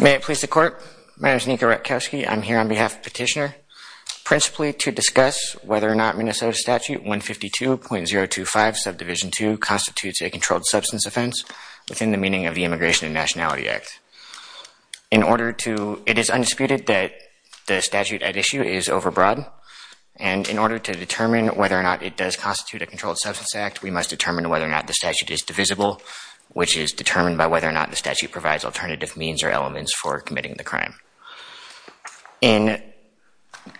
May it please the court. My name is Niko Ratkowski. I'm here on behalf of the petitioner principally to discuss whether or not Minnesota statute 152.025 subdivision 2 constitutes a controlled substance offense within the meaning of the Immigration and Nationality Act. In order to it is undisputed that the statute at issue is overbroad and in order to determine whether or not it does constitute a controlled substance act we must determine whether or not the statute is divisible which is determined by whether or not the statute provides alternative means or elements for committing the crime. In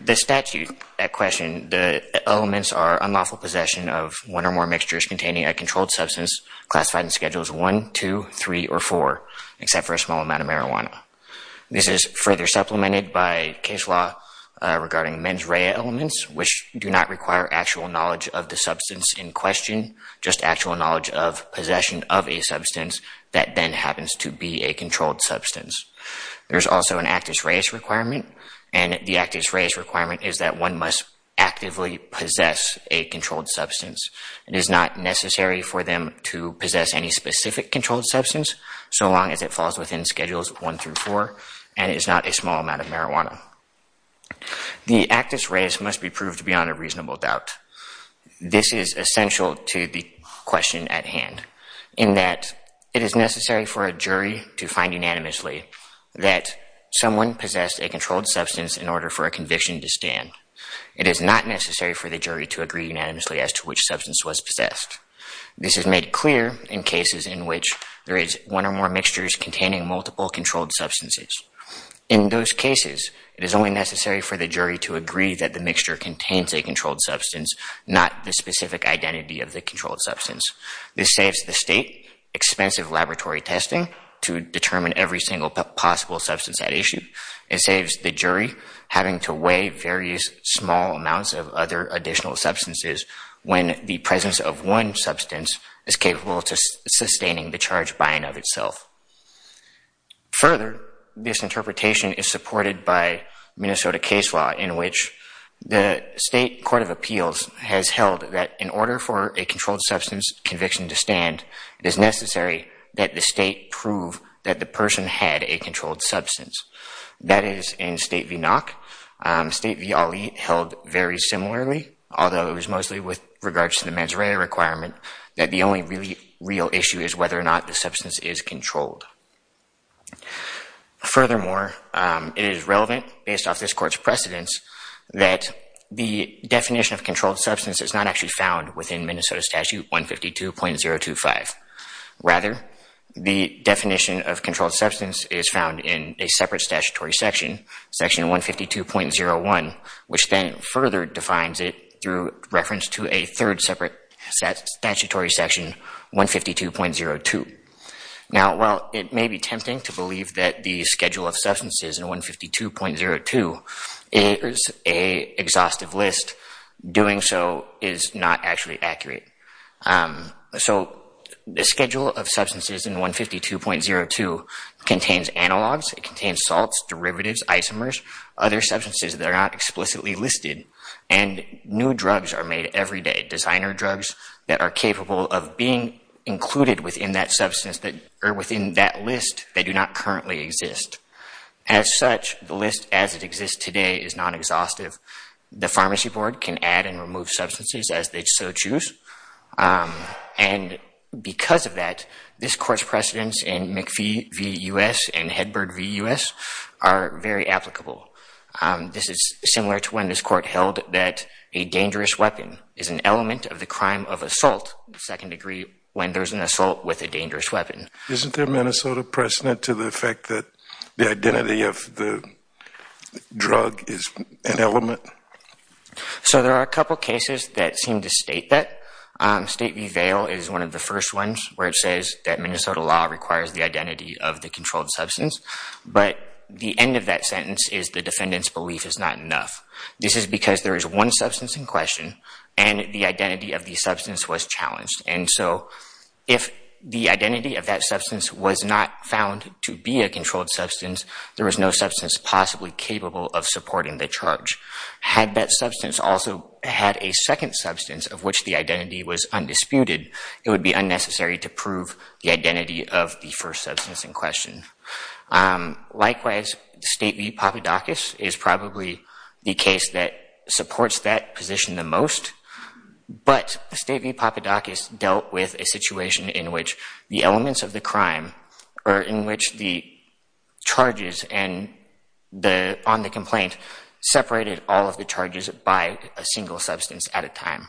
the statute at question the elements are unlawful possession of one or more mixtures containing a controlled substance classified in schedules 1, 2, 3, or 4 except for a small amount of marijuana. This is further supplemented by case law regarding mens rea elements which do not require actual knowledge of the substance in question just actual knowledge of possession of a substance that then happens to be a controlled substance. There's also an actus reus requirement and the actus reus requirement is that one must actively possess a controlled substance. It is not necessary for them to possess any specific controlled substance so long as it falls within schedules 1 through 4 and is not a small amount of marijuana. The actus reus must be proved beyond a reasonable doubt. This is essential to the question at hand in that it is necessary for a jury to find unanimously that someone possessed a controlled substance in order for a conviction to stand. It is not necessary for the jury to agree unanimously as to which substance was possessed. This is made clear in cases in which there is one or more mixtures containing multiple controlled substances. In those cases, it is only necessary for the jury to agree that the mixture contains a controlled substance, not the specific identity of the controlled substance. This saves the state expensive laboratory testing to determine every single possible substance at issue. It saves the jury having to weigh various small amounts of other additional substances when the presence of one substance is capable of sustaining the charge by and of itself. Further, this interpretation is supported by Minnesota case law in which the state court of appeals has held that in order for a controlled substance conviction to stand, it is necessary that the state prove that the person had a controlled substance. That is in State v. Nock. State v. Ali held very similarly, although it was with regards to the mens rea requirement, that the only real issue is whether or not the substance is controlled. Furthermore, it is relevant, based off this court's precedence, that the definition of controlled substance is not actually found within Minnesota Statute 152.025. Rather, the definition of controlled substance is found in a separate statutory section, section 152.01, which then further defines it through reference to a third separate statutory section, 152.02. Now, while it may be tempting to believe that the schedule of substances in 152.02 is an exhaustive list, doing so is not actually accurate. So, the drug prohibitives, isomers, other substances that are not explicitly listed and new drugs are made every day, designer drugs that are capable of being included within that substance that are within that list that do not currently exist. As such, the list as it exists today is not exhaustive. The pharmacy board can add and remove substances as they so choose. And, because of that, this court's precedence in McPhee v. U.S. and Hedberg v. U.S. are very applicable. This is similar to when this court held that a dangerous weapon is an element of the crime of assault, second degree, when there is an assault with a dangerous weapon. Isn't there Minnesota precedent to the fact that the identity of the drug is an element? So, there are a couple cases that seem to state that. State v. Vail is one of the first ones where it says that Minnesota law requires the identity of the controlled substance, but the end of that sentence is the defendant's belief is not enough. This is because there is one substance in question and the identity of the substance was challenged. And so, if the identity of that substance was not found to be a controlled substance, there was no doubt that, had that substance also had a second substance of which the identity was undisputed, it would be unnecessary to prove the identity of the first substance in question. Likewise, State v. Papadakis is probably the case that supports that position the most, but State v. Papadakis dealt with a situation in which the elements of the crime, or in particular, the charges by a single substance at a time.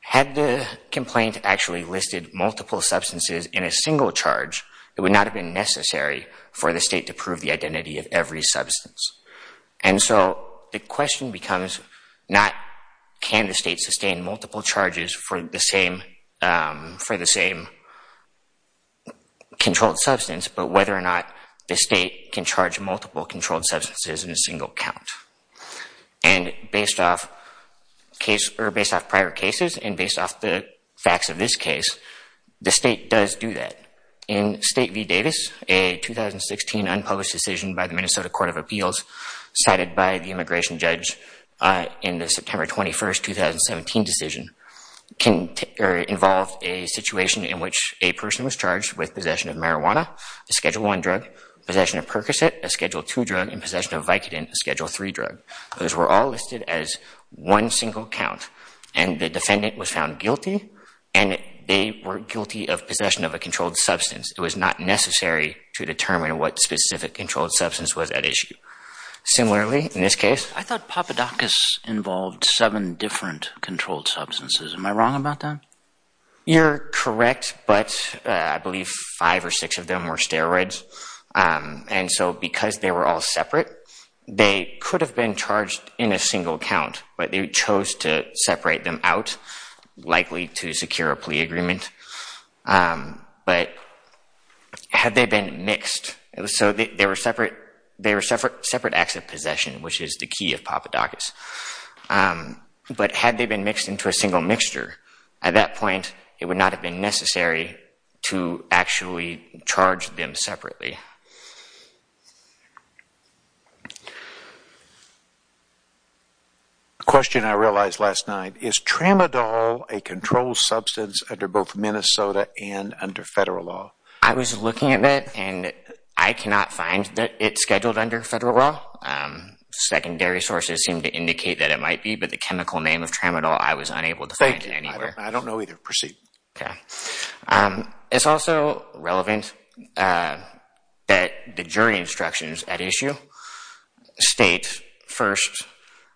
Had the complaint actually listed multiple substances in a single charge, it would not have been necessary for the State to prove the identity of every substance. And so, the question becomes not can the State sustain multiple charges for the same controlled substance, but whether or not the State can prove multiple controlled substances in a single count. And based off prior cases and based off the facts of this case, the State does do that. In State v. Davis, a 2016 unpublished decision by the Minnesota Court of Appeals, cited by the immigration judge in the September 21, 2017 decision, involved a situation in which a person was charged with possession of marijuana, a Schedule I drug, possession of Percocet, a Schedule II drug, and possession of Vicodin, a Schedule III drug. Those were all listed as one single count, and the defendant was found guilty, and they were guilty of possession of a controlled substance. It was not necessary to determine what specific controlled substance was at issue. Similarly, in this case, I thought Papadakis involved seven different controlled substances. Am I wrong about that? You're correct, but I believe five or six of them were steroids. And so, because they were all separate, they could have been charged in a single count, but they chose to separate them out, likely to secure a plea agreement. But had they been mixed, so they were separate acts of possession, which is the key of Papadakis. But had they been mixed into a single mixture, at that point, it would not have been necessary to actually charge them separately. Question I realized last night. Is Tramadol a controlled substance under both Minnesota and under federal law? I was looking at it, and I cannot find that it's scheduled under federal law. Secondary sources seem to indicate that it might be, but the chemical name of Tramadol, I was unable to find it anywhere. Thank you. I don't know either. Proceed. It's also relevant that the jury instructions at issue state, first,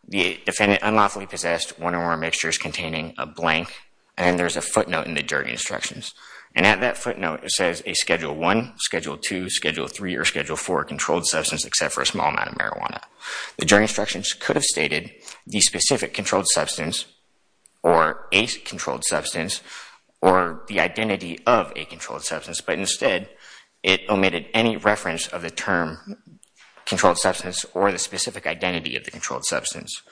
the defendant unlawfully possessed one or more mixtures containing a blank, and there's a footnote in the jury instructions. And at that footnote, it says a Schedule 1, Schedule 2, Schedule 3, or Schedule 4 controlled substance, except for a small amount of marijuana. The jury instructions could have stated the specific controlled substance, or a controlled substance, or the identity of a controlled substance, but instead, it omitted any reference of the term controlled substance or the specific identity of the controlled substance.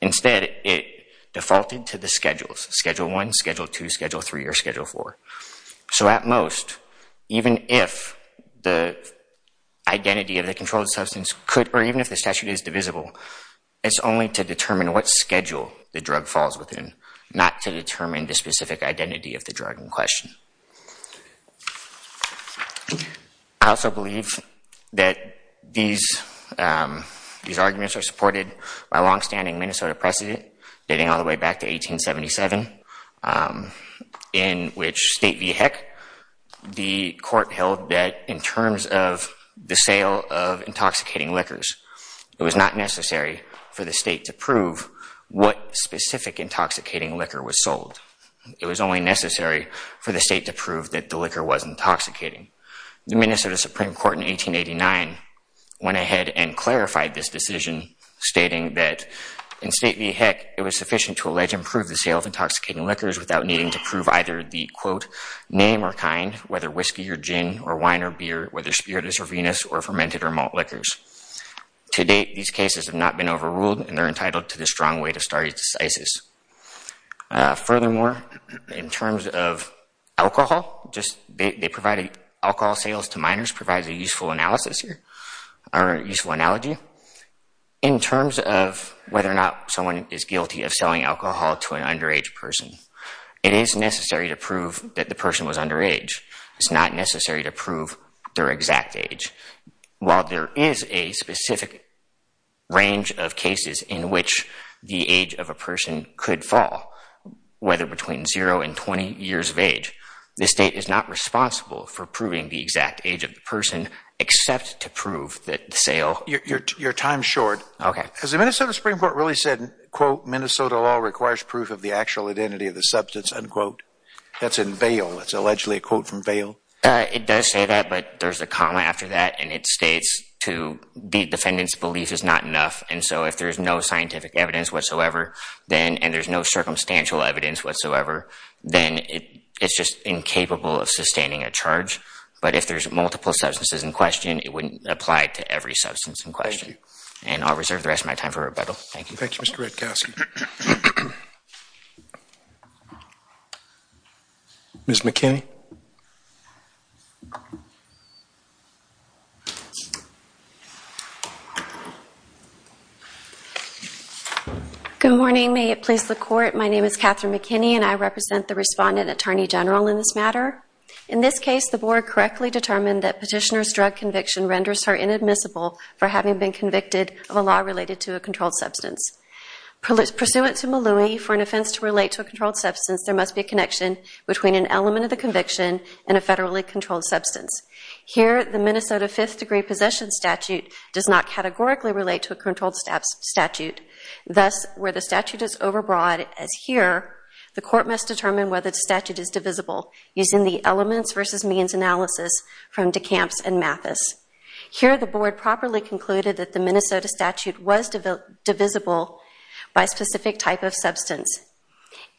Instead, it defaulted to the schedules, Schedule 1, Schedule 2, Schedule 3, or Schedule 4. So at most, even if the identity of the controlled substance could, or even if the statute is divisible, it's only to determine what schedule the drug falls within, not to determine the specific identity of the drug in question. I also believe that these arguments are supported by longstanding Minnesota precedent dating all the way back to 1877, in which State v. Heck, the court held that in terms of the sale of intoxicating liquors, it was not necessary for the state to prove what specific intoxicating liquor was sold. It was only necessary for the state to prove that the liquor was intoxicating. The Minnesota Supreme Court in 1889 went ahead and clarified this allegation to allege and prove the sale of intoxicating liquors without needing to prove either the, quote, name or kind, whether whiskey or gin, or wine or beer, whether spiritus or venus, or fermented or malt liquors. To date, these cases have not been overruled, and they're entitled to the strong weight of stare decisis. Furthermore, in terms of alcohol, they provided alcohol sales to minors provides a useful analysis here, or a useful analogy. In terms of whether or not someone is guilty of selling alcohol to an underage person, it is necessary to prove that the person was underage. It's not necessary to prove their exact age. While there is a specific range of cases in which the age of a person could fall, whether between zero and 20 years of age, the state is not responsible for proving the exact age of the person, except to prove that the sale Your time's short. Has the Minnesota Supreme Court really said, quote, Minnesota law requires proof of the actual identity of the substance, unquote? That's in bail. That's allegedly a quote from bail. It does say that, but there's a comma after that, and it states to the defendant's belief is not enough, and so if there's no scientific evidence whatsoever, and there's no circumstantial evidence whatsoever, then it's just incapable of sustaining a charge. But if there's multiple substances in question, it wouldn't apply to every substance in question. And I'll reserve the rest of my time for rebuttal. Thank you. Thank you, Mr. Redkosky. Ms. McKinney. Good morning. May it please the Court. My name is Katherine McKinney, and I represent the Respondent Attorney General in this matter. In this case, the Board correctly determined that Petitioner's drug conviction renders her inadmissible for having been convicted of a law related to a controlled substance. Pursuant to Maloui, for an offense to relate to a controlled substance, there must be a connection between an element of the conviction and a federally controlled substance. Here, the Minnesota Fifth Degree Possession Statute does not categorically relate to a controlled statute. Thus, where the statute is overbroad, as here, the Court must determine whether the statute is divisible using the elements versus means analysis from DeCamps and Mathis. Here, the Board properly concluded that the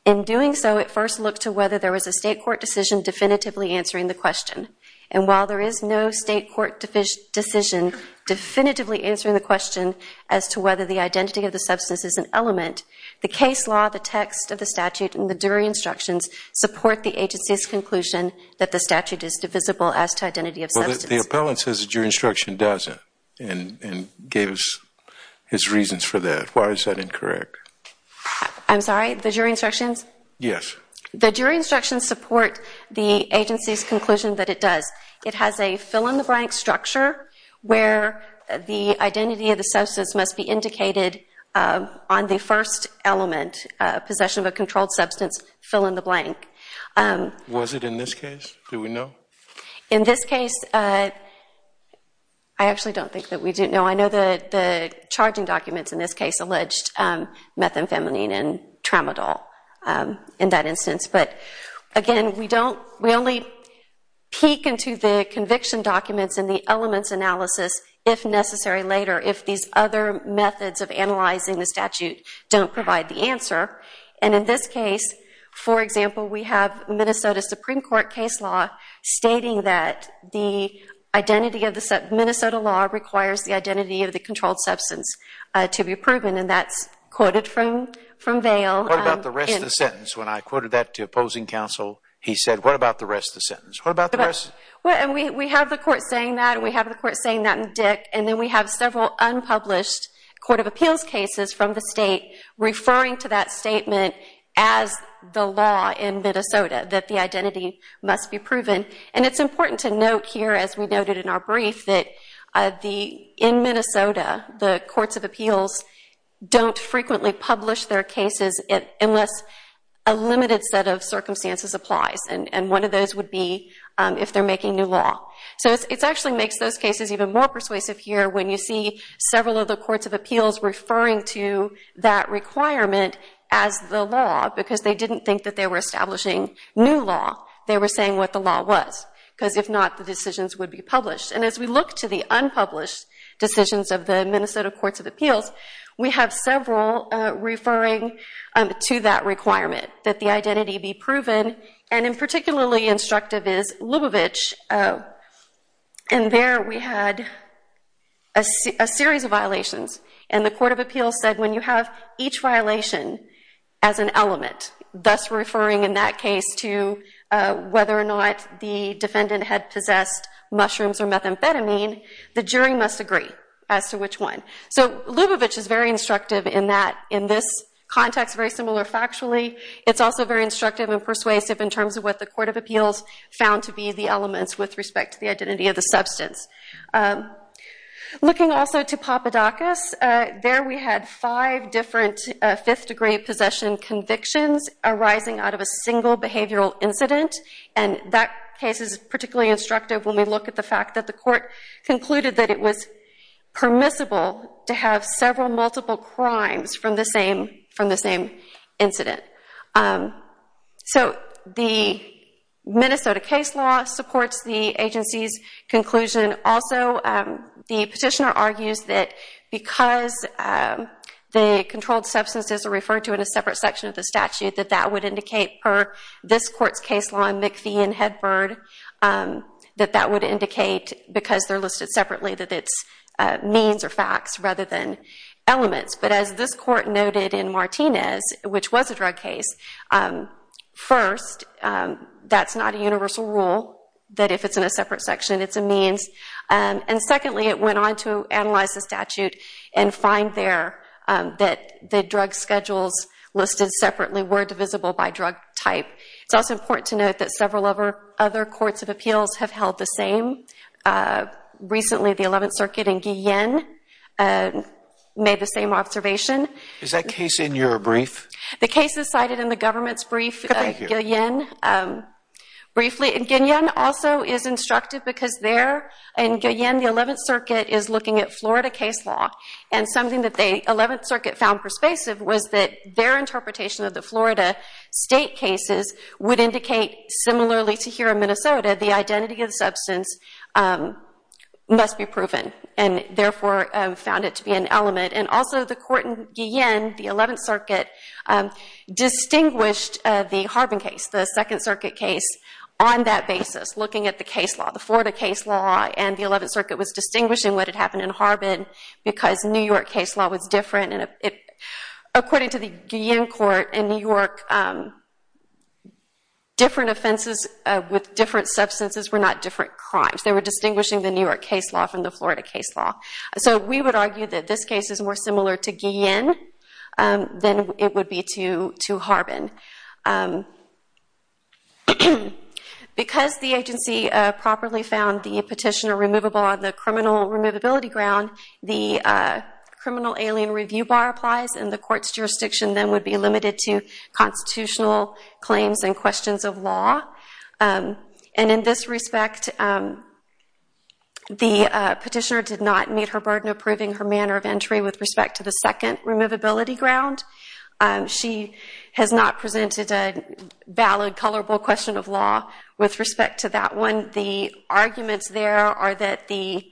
In doing so, it first looked to whether there was a State court decision definitively answering the question. And while there is no State court decision definitively answering the question as to whether the identity of the substance is an element, the case law, the text of the statute, and the jury instructions support the agency's conclusion that the statute is divisible as to identity of substance. The appellant says the jury instruction doesn't and gave us his reasons for that. Why is that The jury instructions support the agency's conclusion that it does. It has a fill-in-the-blank structure where the identity of the substance must be indicated on the first element, possession of a controlled substance, fill-in-the-blank. Was it in this case? Do we know? In this case, I actually don't think that we do know. I know that the charging documents in this case alleged methamphetamine and tramadol in that instance. But again, we only peek into the conviction documents and the elements analysis if necessary later if these other methods of analyzing the statute don't provide the answer. And in this case, for example, we have Minnesota Supreme Court case law stating that the Minnesota law requires the identity of the controlled substance to be proven, and that's quoted from Vail. What about the rest of the sentence? When I quoted that to opposing counsel, he said, what about the rest of the sentence? What about the rest? We have the court saying that, and we have the court saying that in Dick, and then we have several unpublished court of appeals cases from the state referring to that statement as the law in Minnesota, that the identity must be proven. And it's important to note here, as we noted in our brief, that in Minnesota, the courts of appeals don't frequently publish their cases unless a limited set of circumstances applies. And one of those would be if they're making new law. So it actually makes those cases even more persuasive here when you see several of the courts of appeals referring to that requirement as the law, because they didn't think that they were establishing new law. They were saying what the law was, because if not, the decisions would be published. And as we look to the unpublished decisions of the Minnesota courts of appeals, we have several referring to that requirement, that the identity be proven, and in particularly instructive is Lubavitch. And there we had a series of violations, and the court of appeals said when you have each violation as an element, thus referring in that case to whether or not the defendant had possessed mushrooms or methamphetamine, the jury must agree as to which one. So Lubavitch is very instructive in that, in this context, very similar factually. It's also very instructive and persuasive in terms of what the court of appeals found to be the elements with respect to the identity of the substance. Looking also to Papadakis, there we had five different fifth-degree possession convictions arising out of a single behavioral incident, and that case is particularly instructive when we look at the fact that the court concluded that it was permissible to have several multiple crimes from the same incident. So the Minnesota case law supports the agency's conclusion but also the petitioner argues that because the controlled substances are referred to in a separate section of the statute, that that would indicate per this court's case law in McPhee and Hedberg, that that would indicate because they're listed separately that it's means or facts rather than elements. But as this court noted in Martinez, which was a drug case, first, that's not a universal rule, that if it's in a separate section it's a means. And secondly, it went on to analyze the statute and find there that the drug schedules listed separately were divisible by drug type. It's also important to note that several other courts of appeals have held the same. Recently, the 11th Circuit in Guillain made the same observation. Is that case in your brief? The case is cited in the government's brief at Guillain. Briefly, Guillain also is instructive because there in Guillain, the 11th Circuit is looking at Florida case law and something that the 11th Circuit found persuasive was that their interpretation of the Florida state cases would indicate similarly to here in Minnesota, the identity of the substance must be proven and therefore found it to be an element. And also the court in Guillain, the 11th Circuit, distinguished the Harbin case, the 2nd Circuit case, on that basis, looking at the case law, the Florida case law, and the 11th Circuit was distinguishing what had happened in Harbin because New York case law was different. According to the Guillain court in New York, different offenses with different substances were not different crimes. They were distinguishing the New York case law from the Florida case law. So we would argue that this case is more similar to Guillain than it would be to Harbin. Because the agency properly found the petitioner removable on the criminal removability ground, the criminal alien review bar applies and the court's jurisdiction then would be limited to constitutional claims and questions of law. And in this respect, the petitioner did not meet her burden of proving her manner of entry with respect to the second removability ground. She has not presented a valid, colorable question of law with respect to that one. The arguments there are that the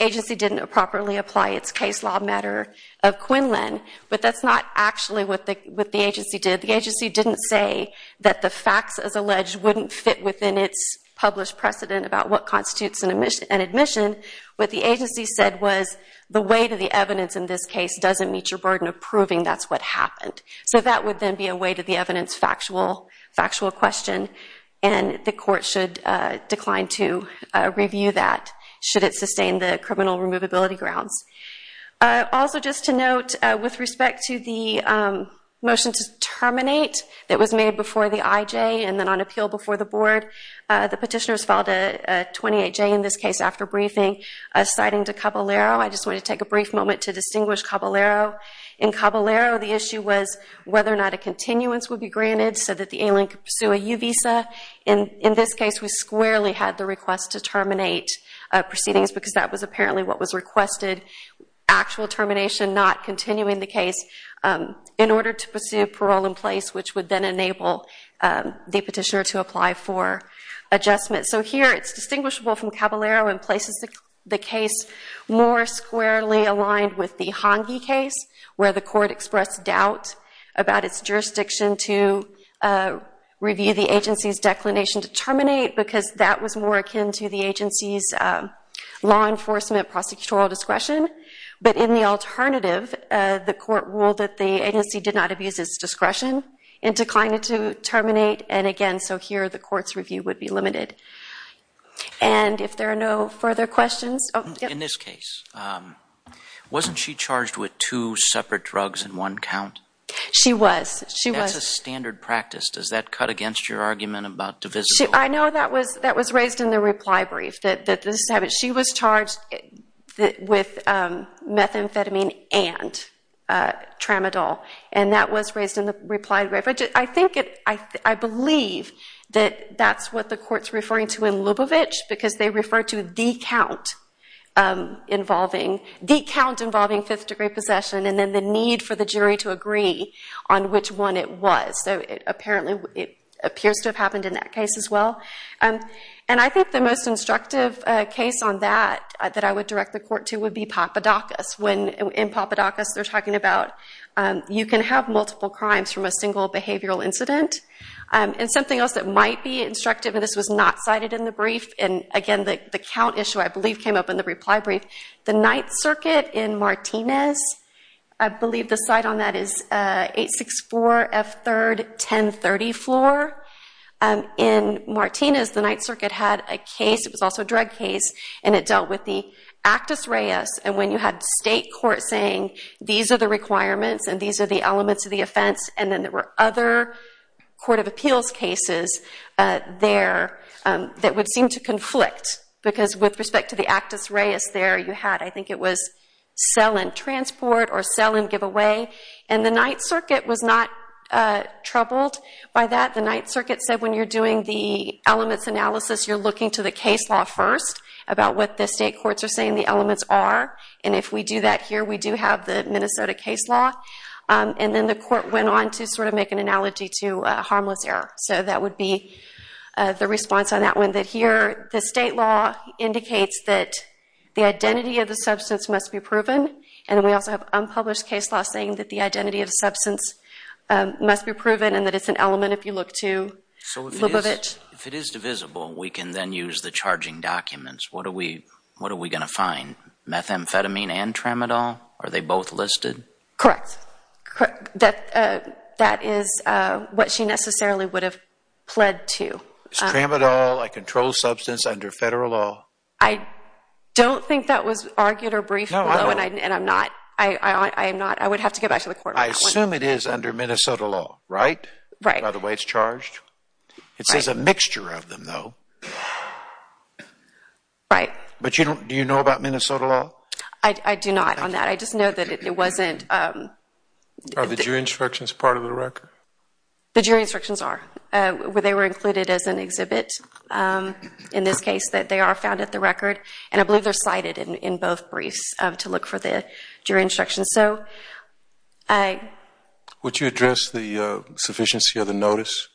agency didn't properly apply its case law matter of Quinlan, but that's not actually what the agency did. The agency didn't say that the facts, as alleged, wouldn't fit within its published precedent about what constitutes an admission. What the agency said was, the weight of the evidence in this case doesn't meet your burden of proving that's what happened. So that would then be a weight of the evidence factual question and the court should decline to review that should it sustain the criminal removability grounds. Also just to note, with respect to the motion to terminate that was made before the IJ and then on appeal before the board, the petitioner has filed a 28J in this case after briefing, citing to Caballero. I just want to take a brief moment to distinguish Caballero. In Caballero, the issue was whether or not a continuance would be granted so that the alien could pursue a U visa. In this case, we squarely had the request to terminate proceedings because that was apparently what was requested. Actual termination, not continuing the case in order to pursue parole in place, which would then enable the petitioner to apply for adjustment. So here it's distinguishable from Caballero in places the case more squarely aligned with the Hongi case, where the court expressed doubt about its jurisdiction to review the agency's declination to terminate because that was more akin to the agency's law enforcement prosecutorial discretion. But in the alternative, the court ruled that the agency did not abuse its discretion and declined it to terminate. And again, so here the court's review would be limited. And if there are no further questions. In this case, wasn't she charged with two separate drugs in one count? She was. That's a standard practice. Does that cut against your argument about divisibility? I know that was raised in the reply brief, that she was charged with methamphetamine and tramadol. And that was raised in the reply brief. I believe that that's what the court's referring to in Lubavitch because they refer to the count involving fifth degree possession and then the need for the jury to agree on which one it was. So apparently it appears to have happened in that case as well. And I think the most instructive case on that that I would direct the court to would be Papadakis. In Papadakis, they're talking about you can have multiple crimes from a single behavioral incident. And something else that might be instructive, and this was not cited in the brief, and again the count issue I believe came up in the reply brief. The Ninth Circuit in Martinez, I believe the cite on that is 864 F. 3rd, 1030 floor. In Martinez, the Ninth Circuit had a case, it was also a drug case, and it dealt with the Actus Reis. And when you had the state court saying these are the requirements and these are the elements of the offense, and then there were other court of appeals cases there that would seem to conflict. Because with respect to the Actus Reis there, you had I think it was sell and transport or sell and give away. And the Ninth Circuit was not troubled by that. The Ninth Circuit said when you're doing the elements analysis, you're looking to the case law first about what the state courts are saying the elements are. And if we do that here, we do have the Minnesota case law. And then the court went on to sort of make an analogy to harmless error. So that would be the response on that one. That here the state law indicates that the identity of the substance must be proven. And we also have unpublished case law saying that the identity of the substance must be proven and that it's an element if you look to flip of it. If it is divisible, we can then use the charging documents. What are we going to find? Methamphetamine and tramadol? Are they both listed? Correct. That is what she necessarily would have pled to. It's tramadol, a controlled substance under federal law. I don't think that was argued or briefed below. And I'm not. I would have to get back to the court. I assume it is under Minnesota law, right, by the way it's charged? It says a mixture of them, though. Right. But you don't, do you know about Minnesota law? I do not on that. I just know that it wasn't. Are the jury instructions part of the record? The jury instructions are. They were included as an exhibit in this case that they are found at the record. And I believe they're cited in both briefs to look for the jury instructions. Would you address the sufficiency of the notice?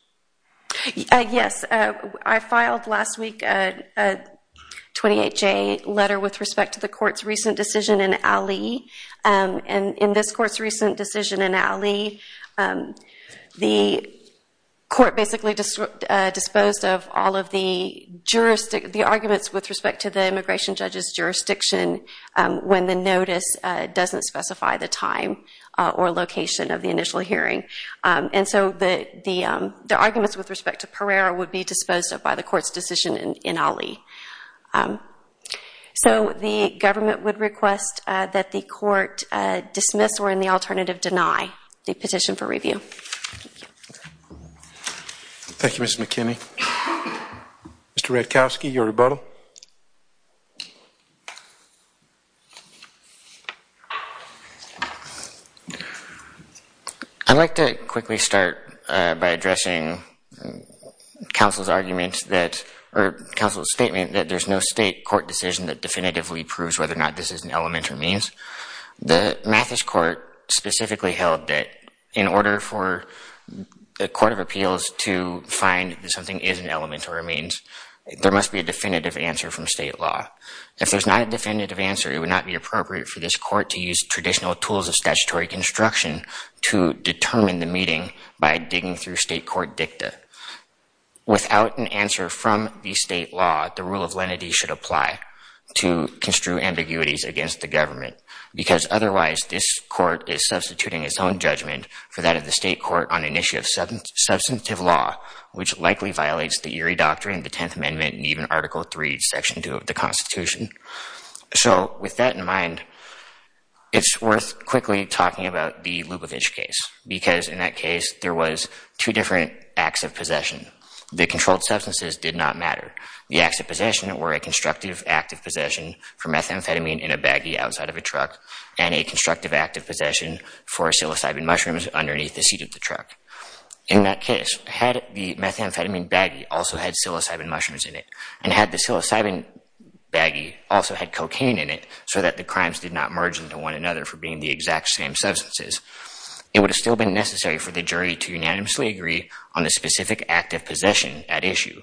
Yes. I filed last week a 28-J letter with respect to the court's recent decision in Alley. And in this court's recent decision in Alley, the court basically disposed of all of the arguments with respect to the immigration judge's jurisdiction when the time or location of the initial hearing. And so the arguments with respect to Pereira would be disposed of by the court's decision in Alley. So the government would request that the court dismiss or in the alternative deny the petition for review. Thank you, Ms. McKinney. Mr. Redkowski, your rebuttal. I'd like to quickly start by addressing counsel's argument that, or counsel's statement that there's no state court decision that definitively proves whether or not this is an element or means. The Mathis court specifically held that in order for the court of appeals to find that something is an element or a means, there must be a definitive answer from state law. If there's not a definitive answer, it would not be appropriate for this court to traditional tools of statutory construction to determine the meeting by digging through state court dicta. Without an answer from the state law, the rule of lenity should apply to construe ambiguities against the government, because otherwise this court is substituting its own judgment for that of the state court on an issue of substantive law, which likely violates the Erie Doctrine, the 10th Amendment, and even Article III, Section 2 of the Constitution. So with that in mind, it's worth quickly talking about the Lubavitch case, because in that case, there was two different acts of possession. The controlled substances did not matter. The acts of possession were a constructive act of possession for methamphetamine in a baggie outside of a truck, and a constructive act of possession for psilocybin mushrooms underneath the seat of the truck. In that case, had the methamphetamine baggie also had psilocybin mushrooms in it, and had the psilocybin baggie also had cocaine in it so that the crimes did not merge into one another for being the exact same substances, it would have still been necessary for the jury to unanimously agree on the specific act of possession at issue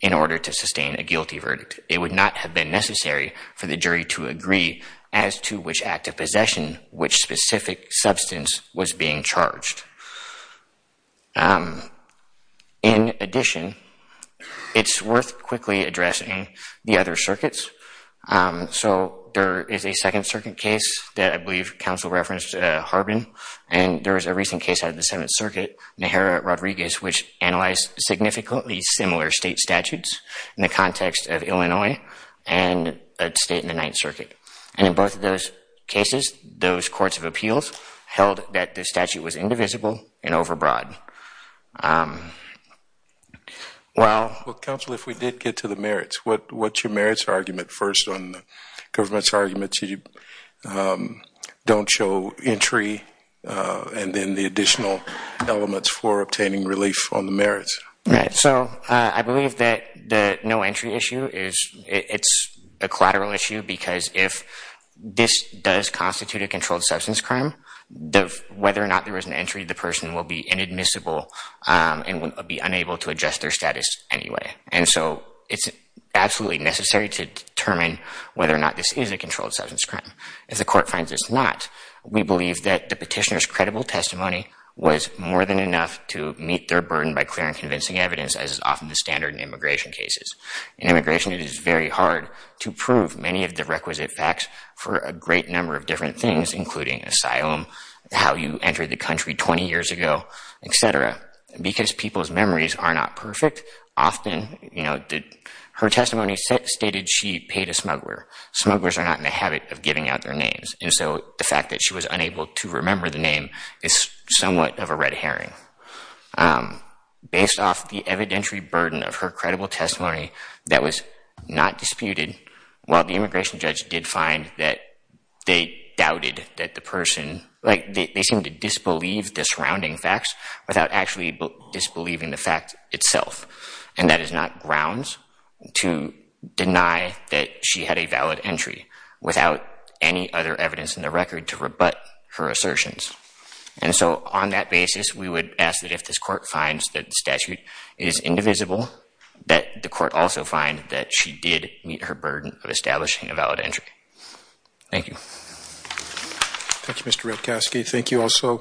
in order to sustain a guilty verdict. It would not have been necessary for the jury to agree as to which act of possession, which specific substance was being charged. In addition, it's worth quickly addressing the other circuits. So there is a Second Circuit case that I believe counsel referenced Harbin, and there was a recent case out of the Seventh Circuit, Najera-Rodriguez, which analyzed significantly similar state statutes in the context of Illinois and a state in the Ninth Circuit. And in both of those cases, those courts of appeals held that the statute was indivisible and overbroad. Well, counsel, if we did get to the merits, what's your merits argument first on the government's argument that you don't show entry and then the additional elements for obtaining relief on the merits? Right. So I believe that the no entry issue is, it's a collateral issue because if this does constitute a controlled substance crime, whether or not there is an entry, the person will be inadmissible and will be unable to adjust their status anyway. And so it's absolutely necessary to determine whether or not this is a controlled substance crime. If the court finds it's not, we believe that the petitioner's credible testimony was more than enough to meet their burden by clear and convincing evidence, as is often the standard in immigration cases. In immigration, it is very hard to prove many of the requisite facts for a great number of different things, including asylum, how you entered the country 20 years ago, et cetera. Because people's memories are not perfect, often her testimony stated she paid a smuggler. Smugglers are not in the habit of giving out their names. And so the fact that she was unable to remember the name is somewhat of a red herring. Based off the evidentiary burden of her credible testimony that was not disputed, while the immigration judge did find that they doubted that the person, like they seem to disbelieve the surrounding facts without actually disbelieving the fact itself. And that is not grounds to deny that she had a valid entry without any other evidence in the record to rebut her assertions. And so on that basis, we would ask that if this court finds that the statute is indivisible, that the court also find that she did meet her burden of establishing a valid entry. Thank you. Thank you, Mr. Redkoski. Thank you also.